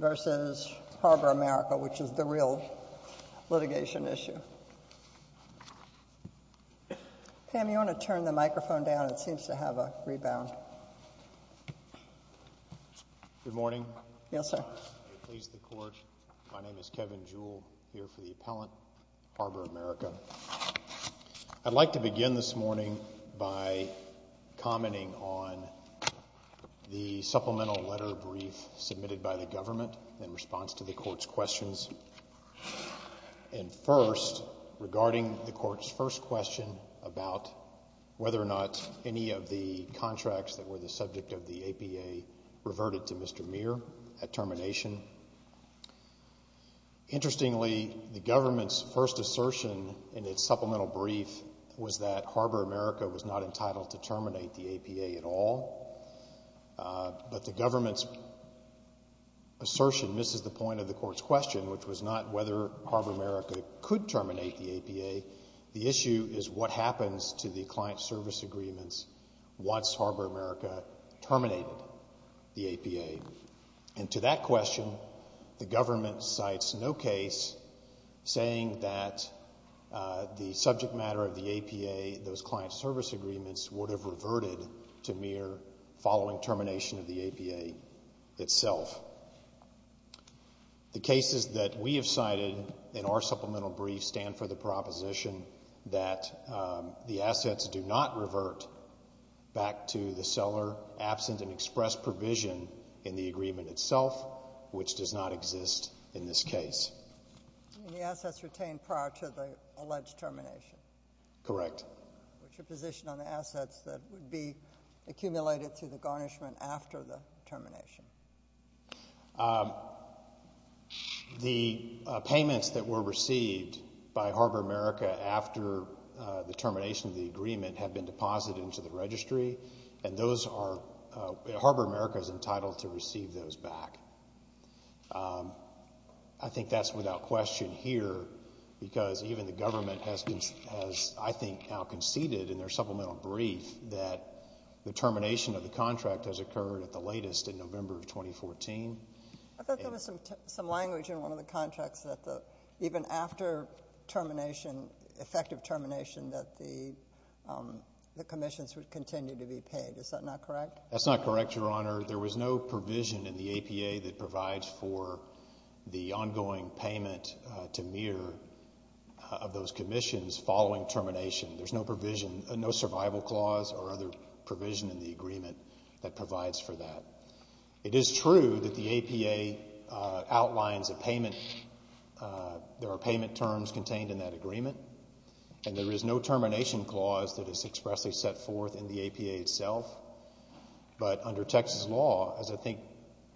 v. Harbor America, which is the real litigation issue. Pam, you want to turn the microphone down? It seems to have a rebound. Good morning. Yes, sir. I'm pleased to be here. My name is Kevin Jewell. I'm here for the appellant, Harbor America. I'd like to begin this morning by commenting on the supplemental letter brief submitted by the government in response to the court's questions. And first, regarding the court's first question about whether or not any of the contracts that were the subject of the APA reverted to Mr. Mire at termination. Interestingly, the government's first assertion in its supplemental brief was that Harbor America was not entitled to terminate the APA at all. But the government's assertion misses the point of the court's question, which was not whether Harbor America could terminate the APA. The issue is what happens to the client service agreements once Harbor America terminated the APA. And to that question, the government cites no case saying that the subject matter of the APA, those client service agreements, would have reverted to Mir following termination of the APA itself. The cases that we have cited in our supplemental brief stand for the proposition that the assets do not revert back to the seller absent an express provision in the agreement itself, which does not exist in this case. And the assets retained prior to the alleged termination? Correct. What's your position on the assets that would be accumulated through the garnishment after the termination? The payments that were received by Harbor America after the termination of the agreement have been deposited into the registry, and Harbor America is entitled to receive those back. I think that's without question here because even the government has, I think, now conceded in their supplemental brief that the termination of the contract has occurred at the latest in November of 2014. I thought there was some language in one of the contracts that even after termination, effective termination, that the commissions would continue to be paid. Is that not correct? That's not correct, Your Honor. There was no provision in the APA that provides for the ongoing payment to Mir of those commissions following termination. There's no provision, no survival clause or other provision in the agreement that provides for that. It is true that the APA outlines a payment. There are payment terms contained in that agreement, and there is no termination clause that is expressly set forth in the APA itself. But under Texas law, as I think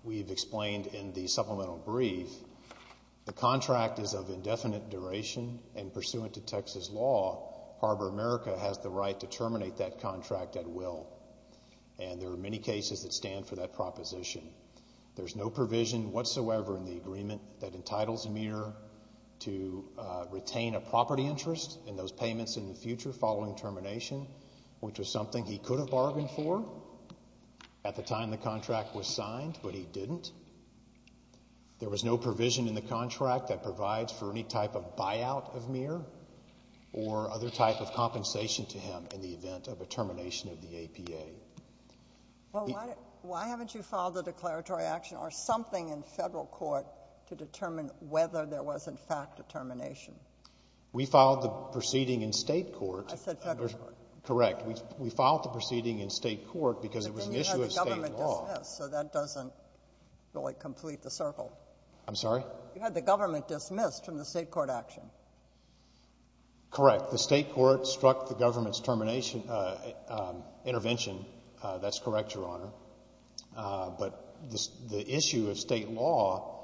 we've explained in the supplemental brief, the contract is of indefinite duration, and pursuant to Texas law, Harbor America has the right to terminate that contract at will, and there are many cases that stand for that proposition. There's no provision whatsoever in the agreement that entitles Mir to retain a property interest in those payments in the future following termination, which was something he could have bargained for at the time the contract was signed, but he didn't. There was no provision in the contract that provides for any type of buyout of Mir or other type of compensation to him in the event of a termination of the APA. Well, why haven't you filed a declaratory action or something in federal court to determine whether there was, in fact, a termination? We filed the proceeding in state court. I said federal court. Correct. We filed the proceeding in state court because it was an issue of state law. Yes, so that doesn't really complete the circle. I'm sorry? You had the government dismissed from the state court action. Correct. The state court struck the government's termination intervention. That's correct, Your Honor. But the issue of state law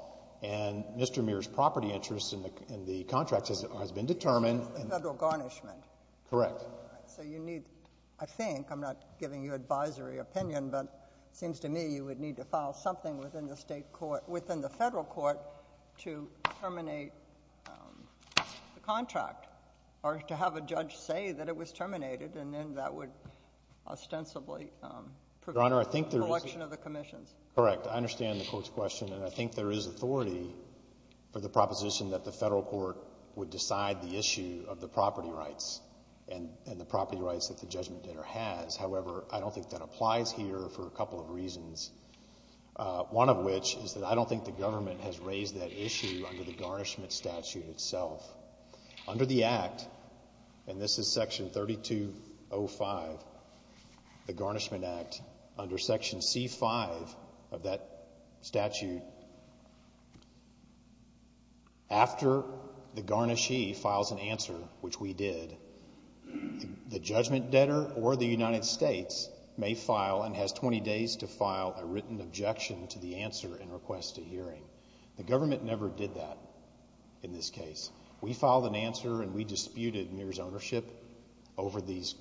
and Mr. Mir's property interest in the contract has been determined. Federal garnishment. Correct. So you need, I think, I'm not giving you advisory opinion, but it seems to me you would need to file something within the federal court to terminate the contract or to have a judge say that it was terminated and then that would ostensibly prevent the collection of the commissions. Correct. I understand the court's question, and I think there is authority for the proposition that the federal court would decide the issue of the property rights and the property rights that the judgment dinner has. However, I don't think that applies here for a couple of reasons, one of which is that I don't think the government has raised that issue under the garnishment statute itself. Under the Act, and this is Section 3205, the Garnishment Act, under Section C-5 of that statute, after the garnishee files an answer, which we did, the judgment debtor or the United States may file and has 20 days to file a written objection to the answer and request a hearing. The government never did that in this case. We filed an answer and we disputed Mir's ownership over these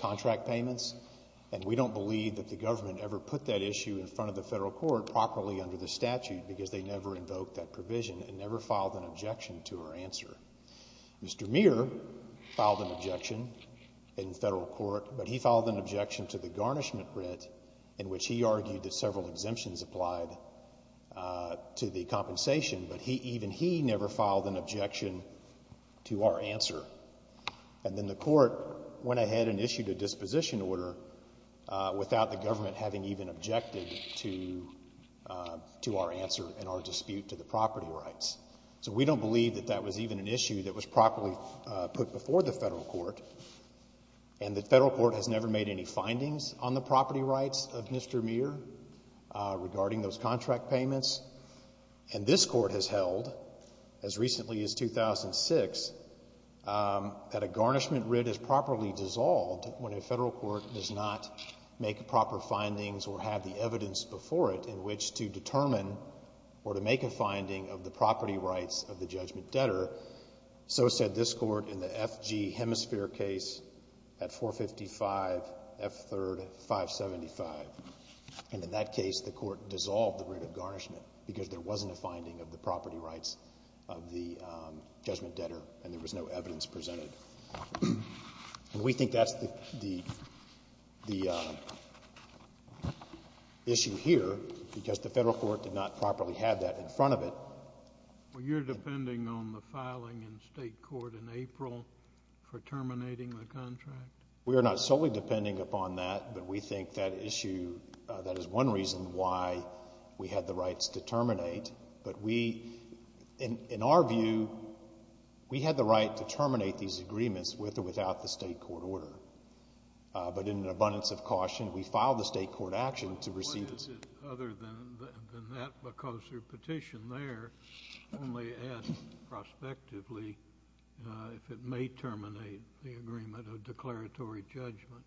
contract payments, and we don't believe that the government ever put that issue in front of the federal court properly under the statute because they never invoked that provision and never filed an objection to our answer. Mr. Mir filed an objection in federal court, but he filed an objection to the garnishment writ in which he argued that several exemptions applied to the compensation, but even he never filed an objection to our answer. And then the court went ahead and issued a disposition order without the government having even objected to our answer and our dispute to the property rights. So we don't believe that that was even an issue that was properly put before the federal court, and the federal court has never made any findings on the property rights of Mr. Mir regarding those contract payments. And this court has held, as recently as 2006, that a garnishment writ is properly dissolved when a federal court does not make proper findings or have the evidence before it in which to determine or to make a finding of the property rights of the judgment debtor. So said this court in the F.G. Hemisphere case at 455 F. 3rd, 575. And in that case, the court dissolved the writ of garnishment because there wasn't a finding of the property rights of the judgment debtor and there was no evidence presented. And we think that's the issue here because the federal court did not properly have that in front of it. Well, you're depending on the filing in state court in April for terminating the contract? We are not solely depending upon that, but we think that issue, that is one reason why we had the rights to terminate. But we, in our view, we had the right to terminate these agreements with or without the state court order. But in an abundance of caution, we filed the state court action to receive this. Other than that, because your petition there only adds prospectively if it may terminate the agreement of declaratory judgment.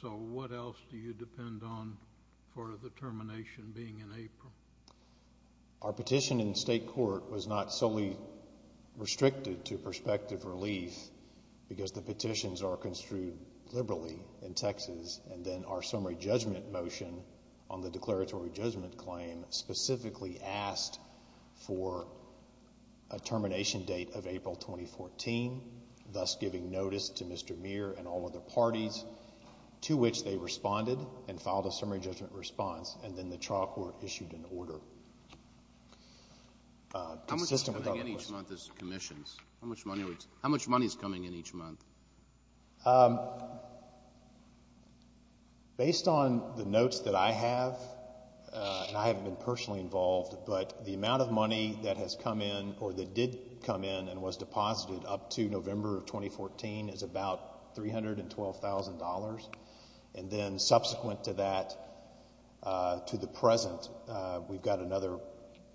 So what else do you depend on for the termination being in April? Our petition in state court was not solely restricted to prospective relief because the petitions are construed liberally in Texas. And then our summary judgment motion on the declaratory judgment claim specifically asked for a termination date of April 2014, thus giving notice to Mr. Muir and all of the parties to which they responded and filed a summary judgment response. And then the trial court issued an order. How much is coming in each month as commissions? How much money is coming in each month? Based on the notes that I have, and I haven't been personally involved, but the amount of money that has come in or that did come in and was deposited up to November of 2014 is about $312,000. And then subsequent to that, to the present, we've got another,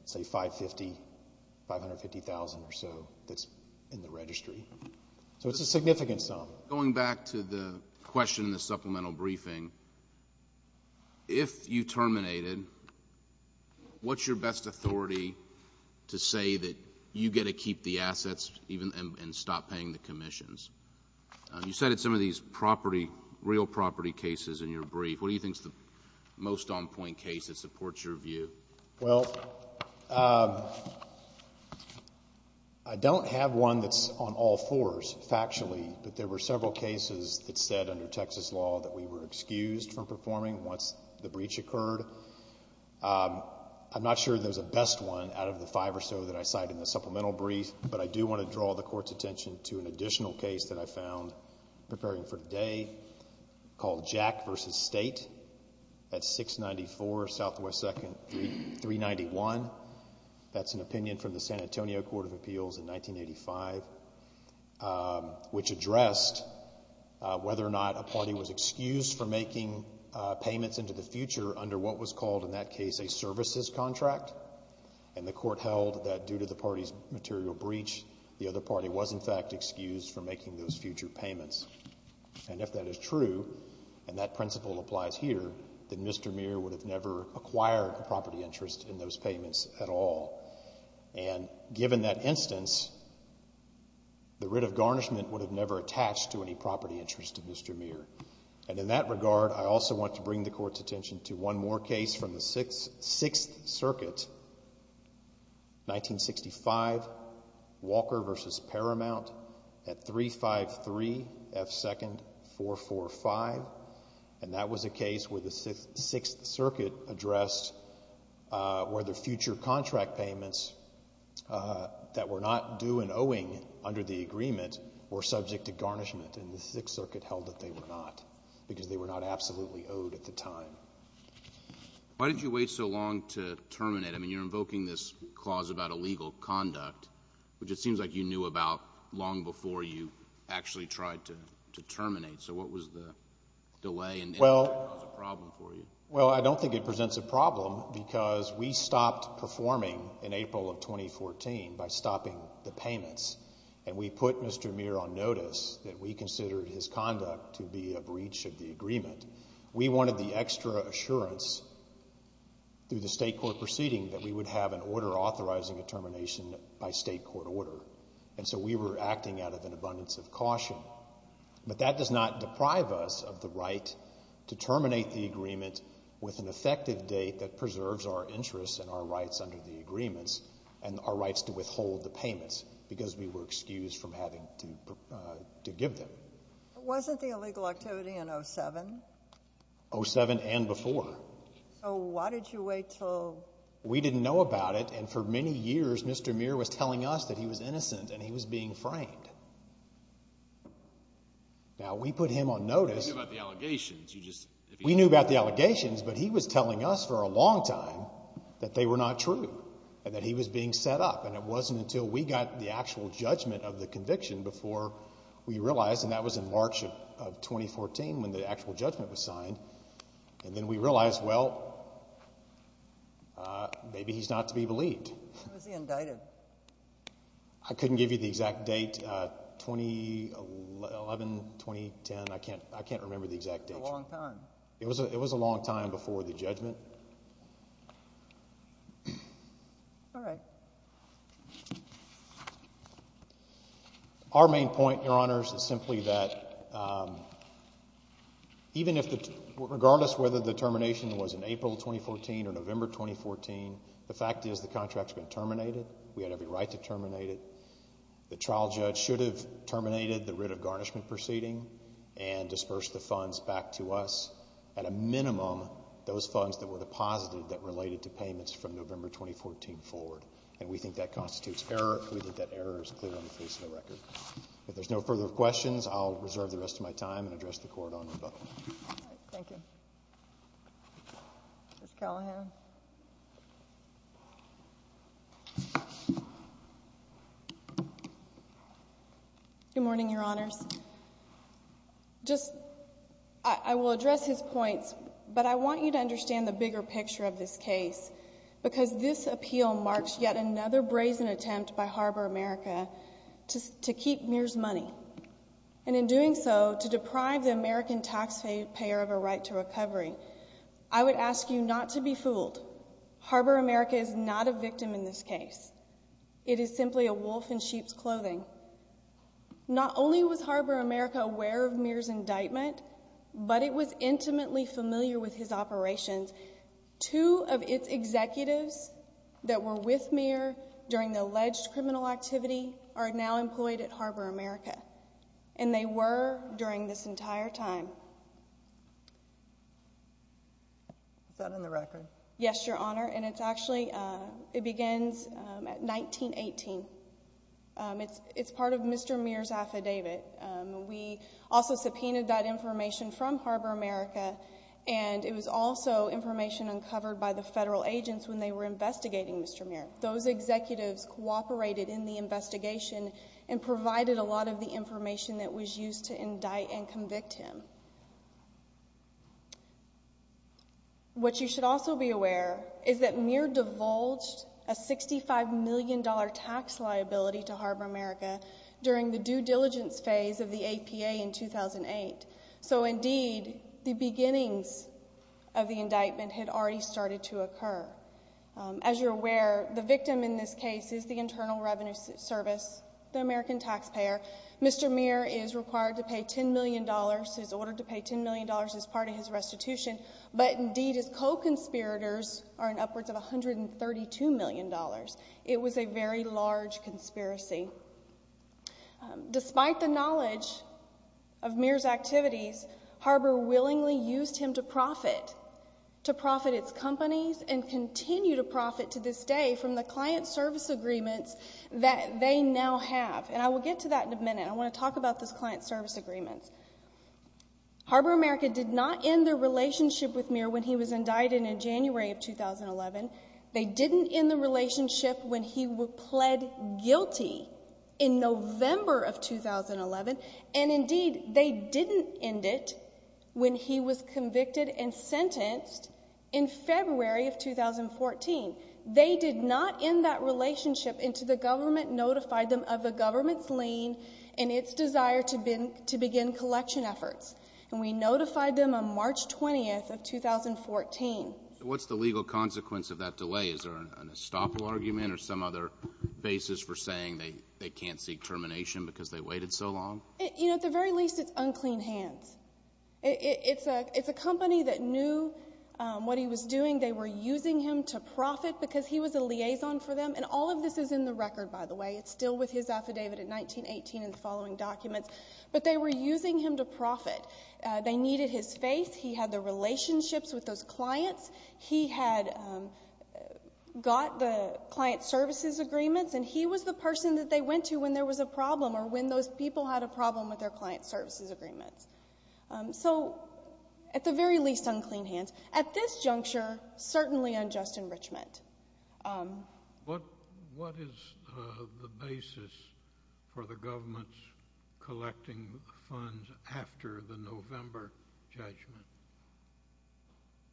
say, $550,000 or so that's in the registry. So it's a significant sum. Going back to the question in the supplemental briefing, if you terminate it, what's your best authority to say that you get to keep the assets and stop paying the commissions? You cited some of these property, real property cases in your brief. What do you think is the most on-point case that supports your view? Well, I don't have one that's on all fours factually, but there were several cases that said under Texas law that we were excused from performing once the breach occurred. I'm not sure there's a best one out of the five or so that I cited in the supplemental brief, but I do want to draw the Court's attention to an additional case that I found preparing for today called Jack v. State at 694 Southwest 2nd 391. That's an opinion from the San Antonio Court of Appeals in 1985, which addressed whether or not a party was excused from making payments into the future under what was called in that case a services contract. And the Court held that due to the party's material breach, the other party was in fact excused from making those future payments. And if that is true, and that principle applies here, then Mr. Muir would have never acquired a property interest in those payments at all. And given that instance, the writ of garnishment would have never attached to any property interest of Mr. Muir. And in that regard, I also want to bring the Court's attention to one more case from the Sixth Circuit, 1965, Walker v. Paramount at 353 F. 2nd 445. And that was a case where the Sixth Circuit addressed whether future contract payments that were not due and owing under the agreement were subject to garnishment. And the Sixth Circuit held that they were not, because they were not absolutely owed at the time. Why did you wait so long to terminate? I mean, you're invoking this clause about illegal conduct, which it seems like you knew about long before you actually tried to terminate. So what was the delay and did it cause a problem for you? Well, I don't think it presents a problem because we stopped performing in April of 2014 by stopping the payments. And we put Mr. Muir on notice that we considered his conduct to be a breach of the agreement. We wanted the extra assurance through the state court proceeding that we would have an order authorizing a termination by state court order. And so we were acting out of an abundance of caution. But that does not deprive us of the right to terminate the agreement with an effective date that preserves our interests and our rights under the agreements and our rights to withhold the payments because we were excused from having to give them. Wasn't the illegal activity in 07? 07 and before. So why did you wait until? We didn't know about it. And for many years, Mr. Muir was telling us that he was innocent and he was being framed. You knew about the allegations. We knew about the allegations, but he was telling us for a long time that they were not true and that he was being set up. And it wasn't until we got the actual judgment of the conviction before we realized. And that was in March of 2014 when the actual judgment was signed. And then we realized, well, maybe he's not to be believed. When was he indicted? I couldn't give you the exact date. 2011, 2010, I can't remember the exact date. That's a long time. It was a long time before the judgment. All right. Our main point, Your Honors, is simply that regardless of whether the termination was in April 2014 or November 2014, the fact is the contract's been terminated. We had every right to terminate it. The trial judge should have terminated the writ of garnishment proceeding and dispersed the funds back to us. At a minimum, those funds that were deposited that related to payments from November 2014 forward. And we think that constitutes error. We think that error is clear on the face of the record. If there's no further questions, I'll reserve the rest of my time and address the Court on rebuttal. Thank you. Ms. Callahan. Good morning, Your Honors. I will address his points, but I want you to understand the bigger picture of this case because this appeal marks yet another brazen attempt by Harbor America to keep Mears money. And in doing so, to deprive the American taxpayer of a right to recovery. I would ask you not to be fooled. Harbor America is not a victim in this case. It is simply a wolf in sheep's clothing. Not only was Harbor America aware of Mears' indictment, but it was intimately familiar with his operations. Two of its executives that were with Mears during the alleged criminal activity are now employed at Harbor America. And they were during this entire time. Is that in the record? Yes, Your Honor. And it's actually, it begins at 1918. It's part of Mr. Mears' affidavit. We also subpoenaed that information from Harbor America, and it was also information uncovered by the federal agents when they were investigating Mr. Mears. Those executives cooperated in the investigation and provided a lot of the information that was used to indict and convict him. What you should also be aware is that Mears divulged a $65 million tax liability to Harbor America during the due diligence phase of the APA in 2008. So, indeed, the beginnings of the indictment had already started to occur. As you're aware, the victim in this case is the Internal Revenue Service, the American taxpayer. Mr. Mears is required to pay $10 million. He's ordered to pay $10 million as part of his restitution. But, indeed, his co-conspirators are in upwards of $132 million. It was a very large conspiracy. Despite the knowledge of Mears' activities, Harbor willingly used him to profit, to profit its companies and continue to profit to this day from the client service agreements that they now have. And I will get to that in a minute. I want to talk about those client service agreements. Harbor America did not end their relationship with Mears when he was indicted in January of 2011. They didn't end the relationship when he pled guilty in November of 2011. And, indeed, they didn't end it when he was convicted and sentenced in February of 2014. They did not end that relationship until the government notified them of the government's lien and its desire to begin collection efforts. And we notified them on March 20th of 2014. What's the legal consequence of that delay? Is there an estoppel argument or some other basis for saying they can't seek termination because they waited so long? You know, at the very least, it's unclean hands. It's a company that knew what he was doing. They were using him to profit because he was a liaison for them. And all of this is in the record, by the way. It's still with his affidavit in 1918 and the following documents. But they were using him to profit. They needed his face. He had the relationships with those clients. He had got the client services agreements. And he was the person that they went to when there was a problem or when those people had a problem with their client services agreements. So, at the very least, unclean hands. At this juncture, certainly unjust enrichment. What is the basis for the government collecting funds after the November judgment?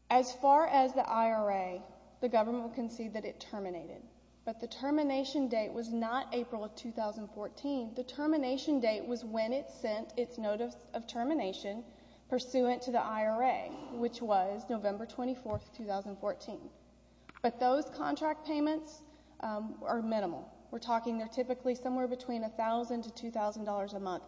As far as the IRA, the government will concede that it terminated. But the termination date was not April of 2014. The termination date was when it sent its notice of termination, pursuant to the IRA, which was November 24th, 2014. But those contract payments are minimal. We're talking they're typically somewhere between $1,000 to $2,000 a month.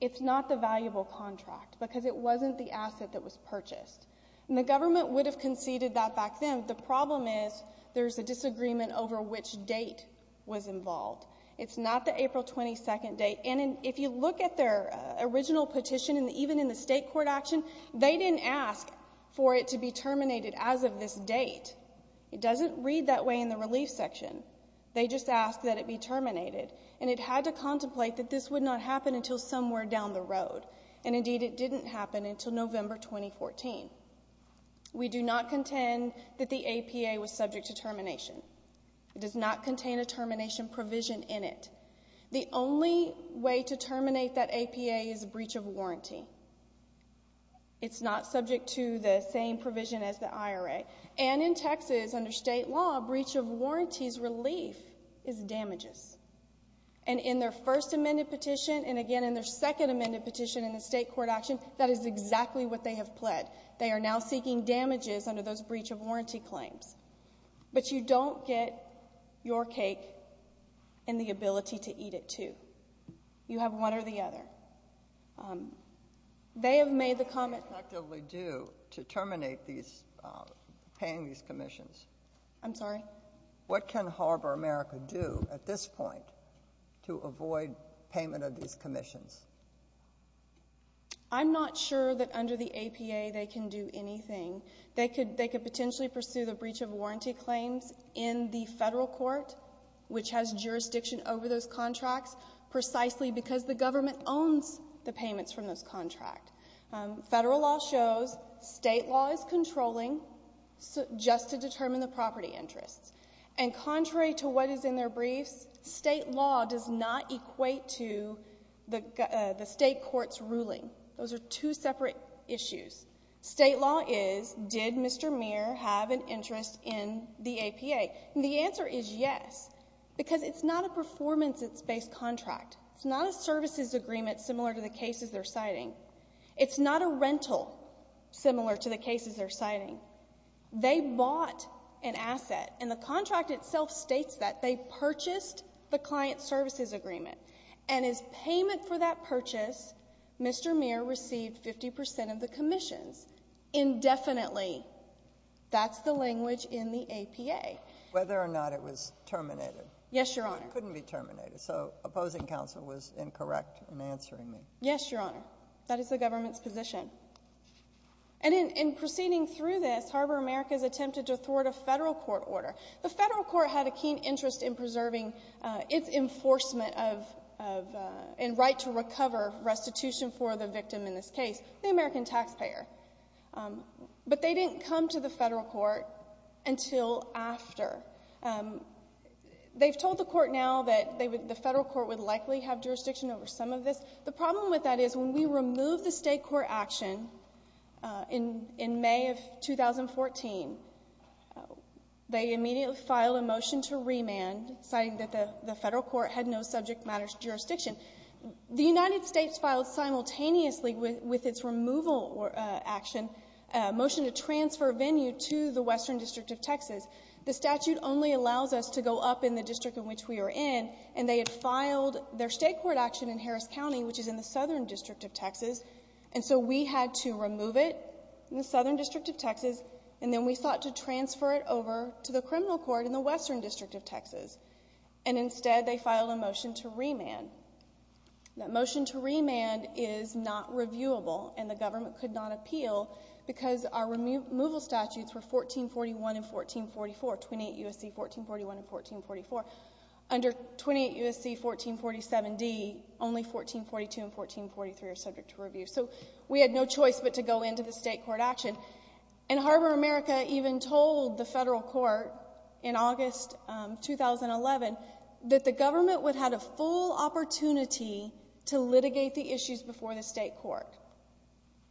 It's not the valuable contract because it wasn't the asset that was purchased. And the government would have conceded that back then. The problem is there's a disagreement over which date was involved. It's not the April 22nd date. And if you look at their original petition, even in the state court action, they didn't ask for it to be terminated as of this date. It doesn't read that way in the relief section. They just asked that it be terminated. And it had to contemplate that this would not happen until somewhere down the road. And, indeed, it didn't happen until November 2014. We do not contend that the APA was subject to termination. It does not contain a termination provision in it. The only way to terminate that APA is a breach of warranty. It's not subject to the same provision as the IRA. And in Texas, under state law, breach of warranty's relief is damages. And in their first amended petition and, again, in their second amended petition in the state court action, that is exactly what they have pled. They are now seeking damages under those breach of warranty claims. But you don't get your cake and the ability to eat it, too. You have one or the other. They have made the comment. What can they effectively do to terminate paying these commissions? I'm sorry? What can Harbor America do at this point to avoid payment of these commissions? I'm not sure that under the APA they can do anything. They could potentially pursue the breach of warranty claims in the federal court, which has jurisdiction over those contracts, precisely because the government owns the payments from those contracts. Federal law shows state law is controlling just to determine the property interests. And contrary to what is in their briefs, state law does not equate to the state court's ruling. Those are two separate issues. State law is, did Mr. Muir have an interest in the APA? And the answer is yes, because it's not a performance-based contract. It's not a services agreement similar to the cases they're citing. It's not a rental similar to the cases they're citing. They bought an asset, and the contract itself states that. They purchased the client services agreement. And as payment for that purchase, Mr. Muir received 50 percent of the commissions indefinitely. That's the language in the APA. Whether or not it was terminated. Yes, Your Honor. It couldn't be terminated. So opposing counsel was incorrect in answering me. Yes, Your Honor. That is the government's position. And in proceeding through this, Harbor America has attempted to thwart a federal court order. The federal court had a keen interest in preserving its enforcement of, and right to recover restitution for the victim in this case, the American taxpayer. But they didn't come to the federal court until after. They've told the court now that the federal court would likely have jurisdiction over some of this. The problem with that is when we remove the state court action in May of 2014, they immediately filed a motion to remand, citing that the federal court had no subject matter jurisdiction. The United States filed simultaneously with its removal action a motion to transfer a venue to the Western District of Texas. The statute only allows us to go up in the district in which we are in, and they had filed their state court action in Harris County, which is in the Southern District of Texas. And so we had to remove it in the Southern District of Texas, and then we sought to transfer it over to the criminal court in the Western District of Texas. And instead they filed a motion to remand. That motion to remand is not reviewable, and the government could not appeal because our removal statutes were 1441 and 1444, 28 U.S.C. 1441 and 1444. Under 28 U.S.C. 1447D, only 1442 and 1443 are subject to review. So we had no choice but to go into the state court action. And Harbor America even told the federal court in August 2011 that the government would have a full opportunity to litigate the issues before the state court.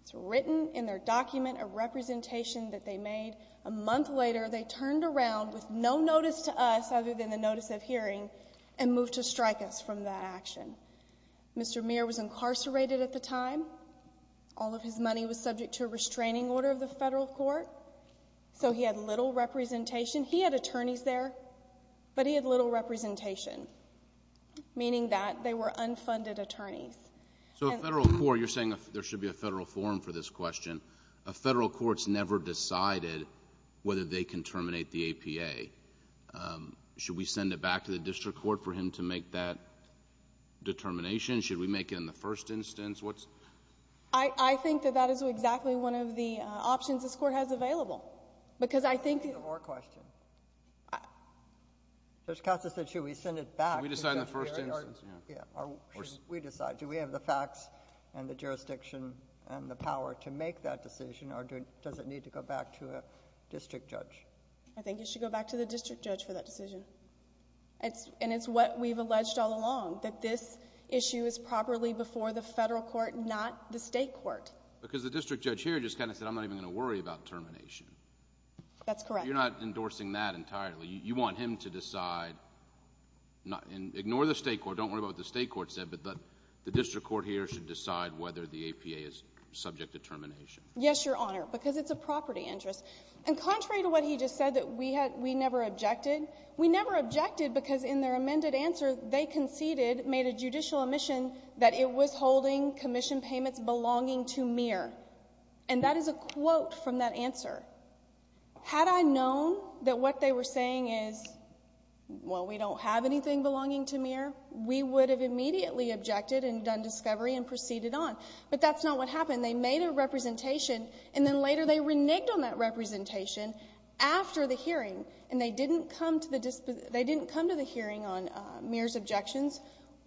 It's written in their document, a representation that they made. A month later, they turned around with no notice to us other than the notice of hearing and moved to strike us from that action. Mr. Muir was incarcerated at the time. All of his money was subject to a restraining order of the federal court. So he had little representation. He had attorneys there, but he had little representation, meaning that they were unfunded attorneys. So a federal court, you're saying there should be a federal forum for this question. A federal court's never decided whether they can terminate the APA. Should we send it back to the district court for him to make that determination? Should we make it in the first instance? I think that that is exactly one of the options this court has available because I think... I have one more question. Judge Costa said should we send it back... Should we decide in the first instance? We decide. Do we have the facts and the jurisdiction and the power to make that decision or does it need to go back to a district judge? I think it should go back to the district judge for that decision. And it's what we've alleged all along, that this issue is properly before the federal court, not the state court. Because the district judge here just kind of said I'm not even going to worry about termination. That's correct. You're not endorsing that entirely. You want him to decide... Ignore the state court. Don't worry about what the state court said, but the district court here should decide whether the APA is subject to termination. Yes, Your Honor, because it's a property interest. And contrary to what he just said that we never objected, we never objected because in their amended answer they conceded, made a judicial omission, that it was holding commission payments belonging to Meir. And that is a quote from that answer. Had I known that what they were saying is, well, we don't have anything belonging to Meir, we would have immediately objected and done discovery and proceeded on. But that's not what happened. They made a representation and then later they reneged on that representation after the hearing and they didn't come to the hearing on Meir's objections,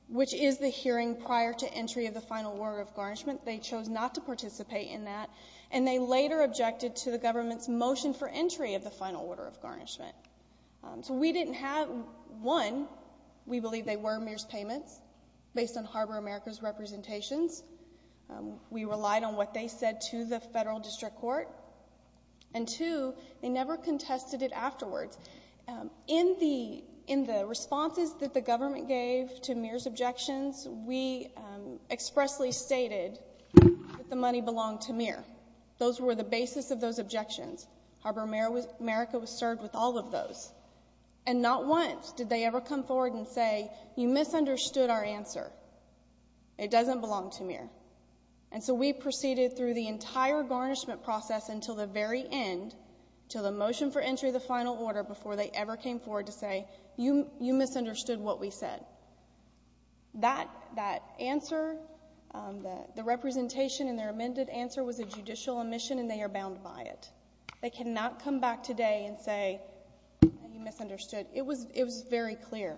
which is the hearing prior to entry of the final order of garnishment. They chose not to participate in that. And they later objected to the government's motion for entry of the final order of garnishment. So we didn't have, one, we believe they were Meir's payments based on Harbor America's representations. We relied on what they said to the federal district court. And, two, they never contested it afterwards. In the responses that the government gave to Meir's objections, we expressly stated that the money belonged to Meir. Those were the basis of those objections. Harbor America was served with all of those. And not once did they ever come forward and say, you misunderstood our answer. It doesn't belong to Meir. And so we proceeded through the entire garnishment process until the very end, until the motion for entry of the final order, before they ever came forward to say, you misunderstood what we said. That answer, the representation and their amended answer was a judicial omission and they are bound by it. They cannot come back today and say, you misunderstood. It was very clear.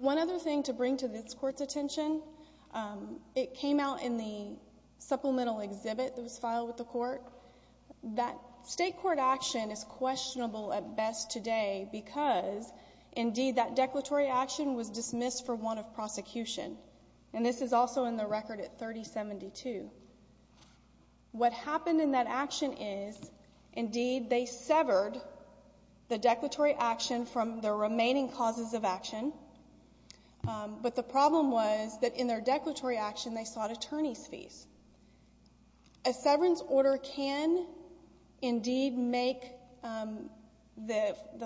One other thing to bring to this court's attention, it came out in the supplemental exhibit that was filed with the court, that state court action is questionable at best today because, indeed, that declaratory action was dismissed for want of prosecution. And this is also in the record at 3072. What happened in that action is, indeed, they severed the declaratory action from the remaining causes of action. But the problem was that in their declaratory action, they sought attorney's fees. A severance order can, indeed, make the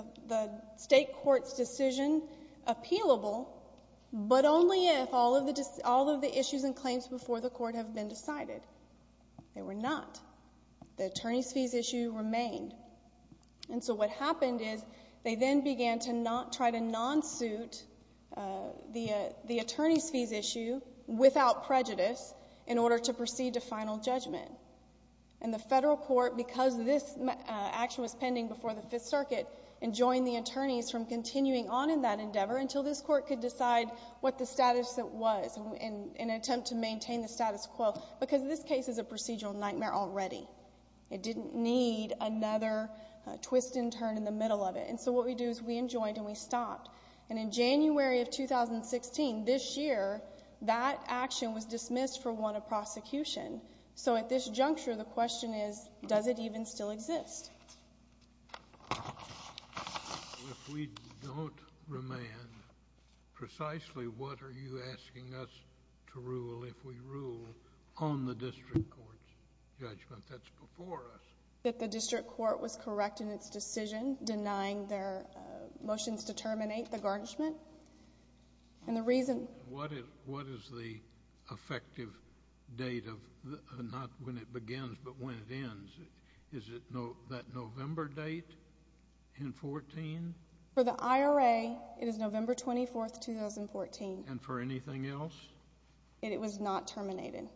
state court's decision appealable, but only if all of the issues and claims before the court have been decided. They were not. The attorney's fees issue remained. And so what happened is they then began to try to non-suit the attorney's fees issue without prejudice in order to proceed to final judgment. And the federal court, because this action was pending before the Fifth Circuit, enjoined the attorneys from continuing on in that endeavor until this court could decide what the status was in an attempt to maintain the status quo because this case is a procedural nightmare already. It didn't need another twist and turn in the middle of it. And so what we do is we enjoined and we stopped. And in January of 2016, this year, that action was dismissed for want of prosecution. So at this juncture, the question is, does it even still exist? If we don't remand, precisely what are you asking us to rule if we rule on the district court's judgment that's before us? That the district court was correct in its decision denying their motions to terminate the garnishment. And the reason... What is the effective date of not when it begins but when it ends? Is it that November date in 14? For the IRA, it is November 24, 2014. And for anything else? That it was not terminated,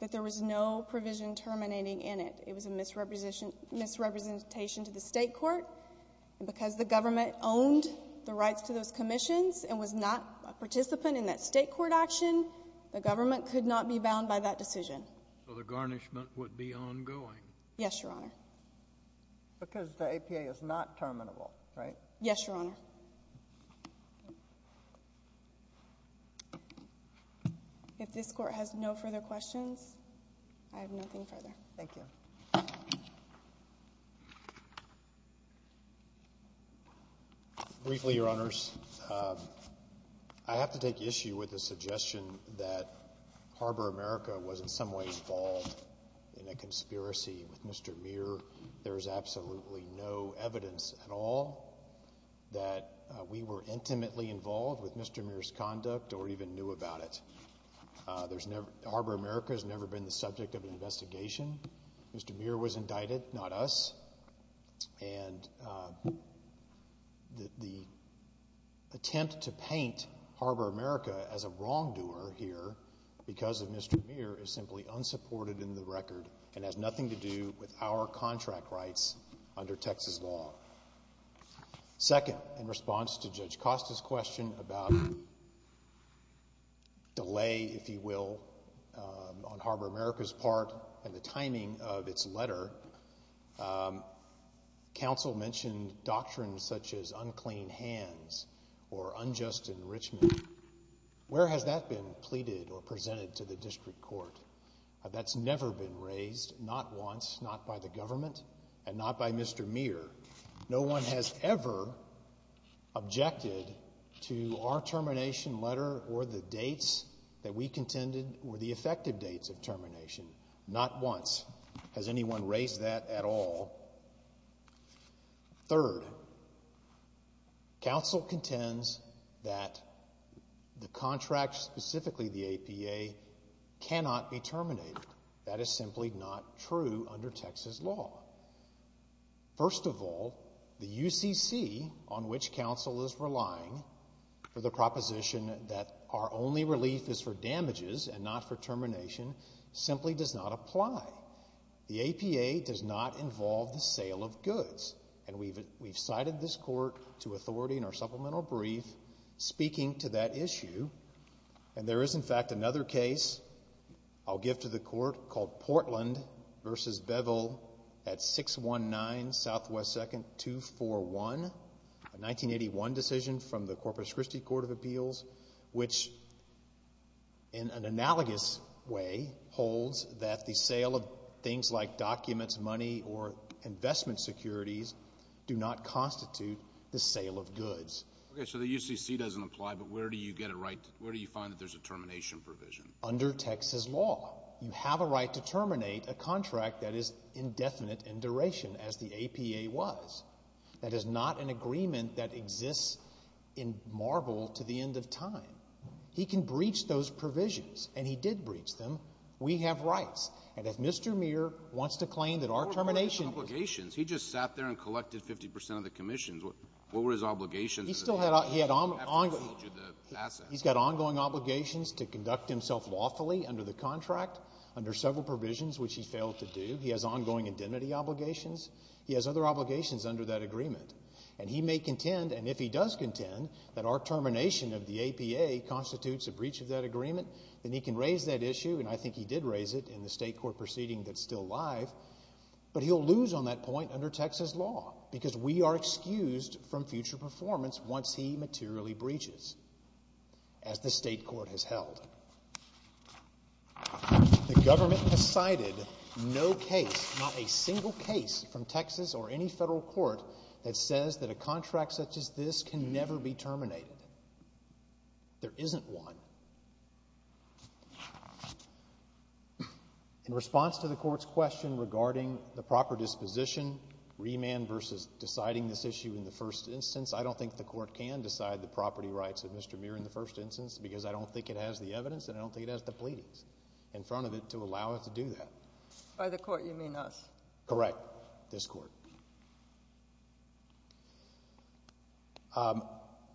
that there was no provision terminating in it. It was a misrepresentation to the state court. And because the government owned the rights to those commissions and was not a participant in that state court action, the government could not be bound by that decision. So the garnishment would be ongoing? Yes, Your Honor. Because the APA is not terminable, right? Yes, Your Honor. If this Court has no further questions, I have nothing further. Thank you. Briefly, Your Honors, I have to take issue with the suggestion that Harbor America was in some way involved in a conspiracy with Mr. Muir. There is absolutely no evidence at all that we were intimately involved with Mr. Muir's conduct or even knew about it. Harbor America has never been the subject of an investigation. Mr. Muir was indicted, not us. And the attempt to paint Harbor America as a wrongdoer here because of Mr. Muir is simply unsupported in the record and has nothing to do with our contract rights under Texas law. Second, in response to Judge Costa's question about delay, if you will, on Harbor America's part and the timing of its letter, counsel mentioned doctrines such as unclean hands or unjust enrichment. Where has that been pleaded or presented to the district court? That's never been raised, not once, not by the government and not by Mr. Muir. No one has ever objected to our termination letter or the dates that we contended were the effective dates of termination. Not once has anyone raised that at all. Third, counsel contends that the contract, specifically the APA, cannot be terminated. That is simply not true under Texas law. First of all, the UCC on which counsel is relying for the proposition that our only relief is for damages and not for termination simply does not apply. The APA does not involve the sale of goods. And we've cited this court to authority in our supplemental brief speaking to that issue. And there is, in fact, another case I'll give to the court called Portland v. Beville at 619 Southwest 2nd 241, a 1981 decision from the Corpus Christi Court of Appeals, which, in an analogous way, holds that the sale of things like documents, money, or investment securities do not constitute the sale of goods. Okay, so the UCC doesn't apply, but where do you get a right, where do you find that there's a termination provision? Under Texas law. You have a right to terminate a contract that is indefinite in duration, as the APA was. That is not an agreement that exists in marvel to the end of time. He can breach those provisions, and he did breach them. We have rights. And if Mr. Muir wants to claim that our termination— What were his obligations? He just sat there and collected 50 percent of the commissions. What were his obligations? He's got ongoing obligations to conduct himself lawfully under the contract, under several provisions which he failed to do. He has ongoing identity obligations. He has other obligations under that agreement. And he may contend, and if he does contend, that our termination of the APA constitutes a breach of that agreement, then he can raise that issue, and I think he did raise it in the state court proceeding that's still alive, but he'll lose on that point under Texas law because we are excused from future performance once he materially breaches, as the state court has held. The government has cited no case, not a single case from Texas or any federal court, that says that a contract such as this can never be terminated. There isn't one. In response to the court's question regarding the proper disposition, remand versus deciding this issue in the first instance, I don't think the court can decide the property rights of Mr. Muir in the first instance because I don't think it has the evidence and I don't think it has the pleadings in front of it to allow it to do that. By the court, you mean us. Correct, this court.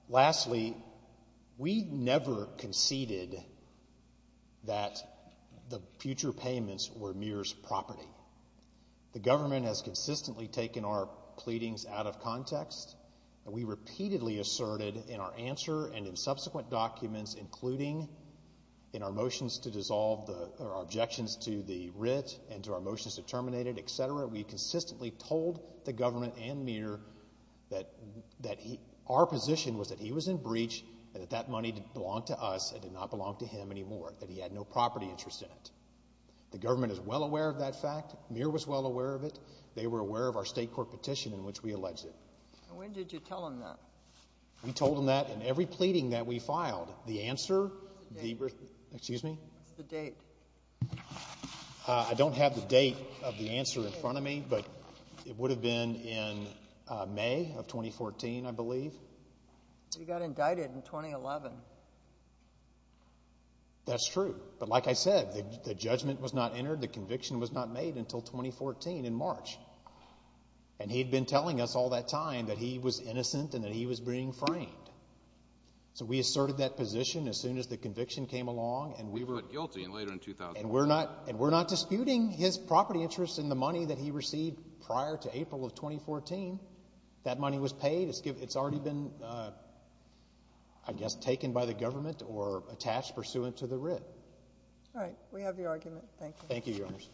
Lastly, we never conceded that the future payments were Muir's property. The government has consistently taken our pleadings out of context, and we repeatedly asserted in our answer and in subsequent documents, including in our motions to dissolve or objections to the writ and to our motions to terminate it, et cetera, we consistently told the government and Muir that our position was that he was in breach and that that money didn't belong to us, it did not belong to him anymore, that he had no property interest in it. The government is well aware of that fact. Muir was well aware of it. They were aware of our state court petition in which we alleged it. And when did you tell him that? We told him that in every pleading that we filed. The answer, excuse me? What's the date? I don't have the date of the answer in front of me, but it would have been in May of 2014, I believe. He got indicted in 2011. That's true. But like I said, the judgment was not entered, the conviction was not made until 2014 in March. And he had been telling us all that time that he was innocent and that he was being framed. So we asserted that position as soon as the conviction came along and we were And we're not disputing his property interest in the money that he received prior to April of 2014. That money was paid. It's already been, I guess, taken by the government or attached pursuant to the writ. All right. We have your argument. Thank you. Thank you, Your Honors.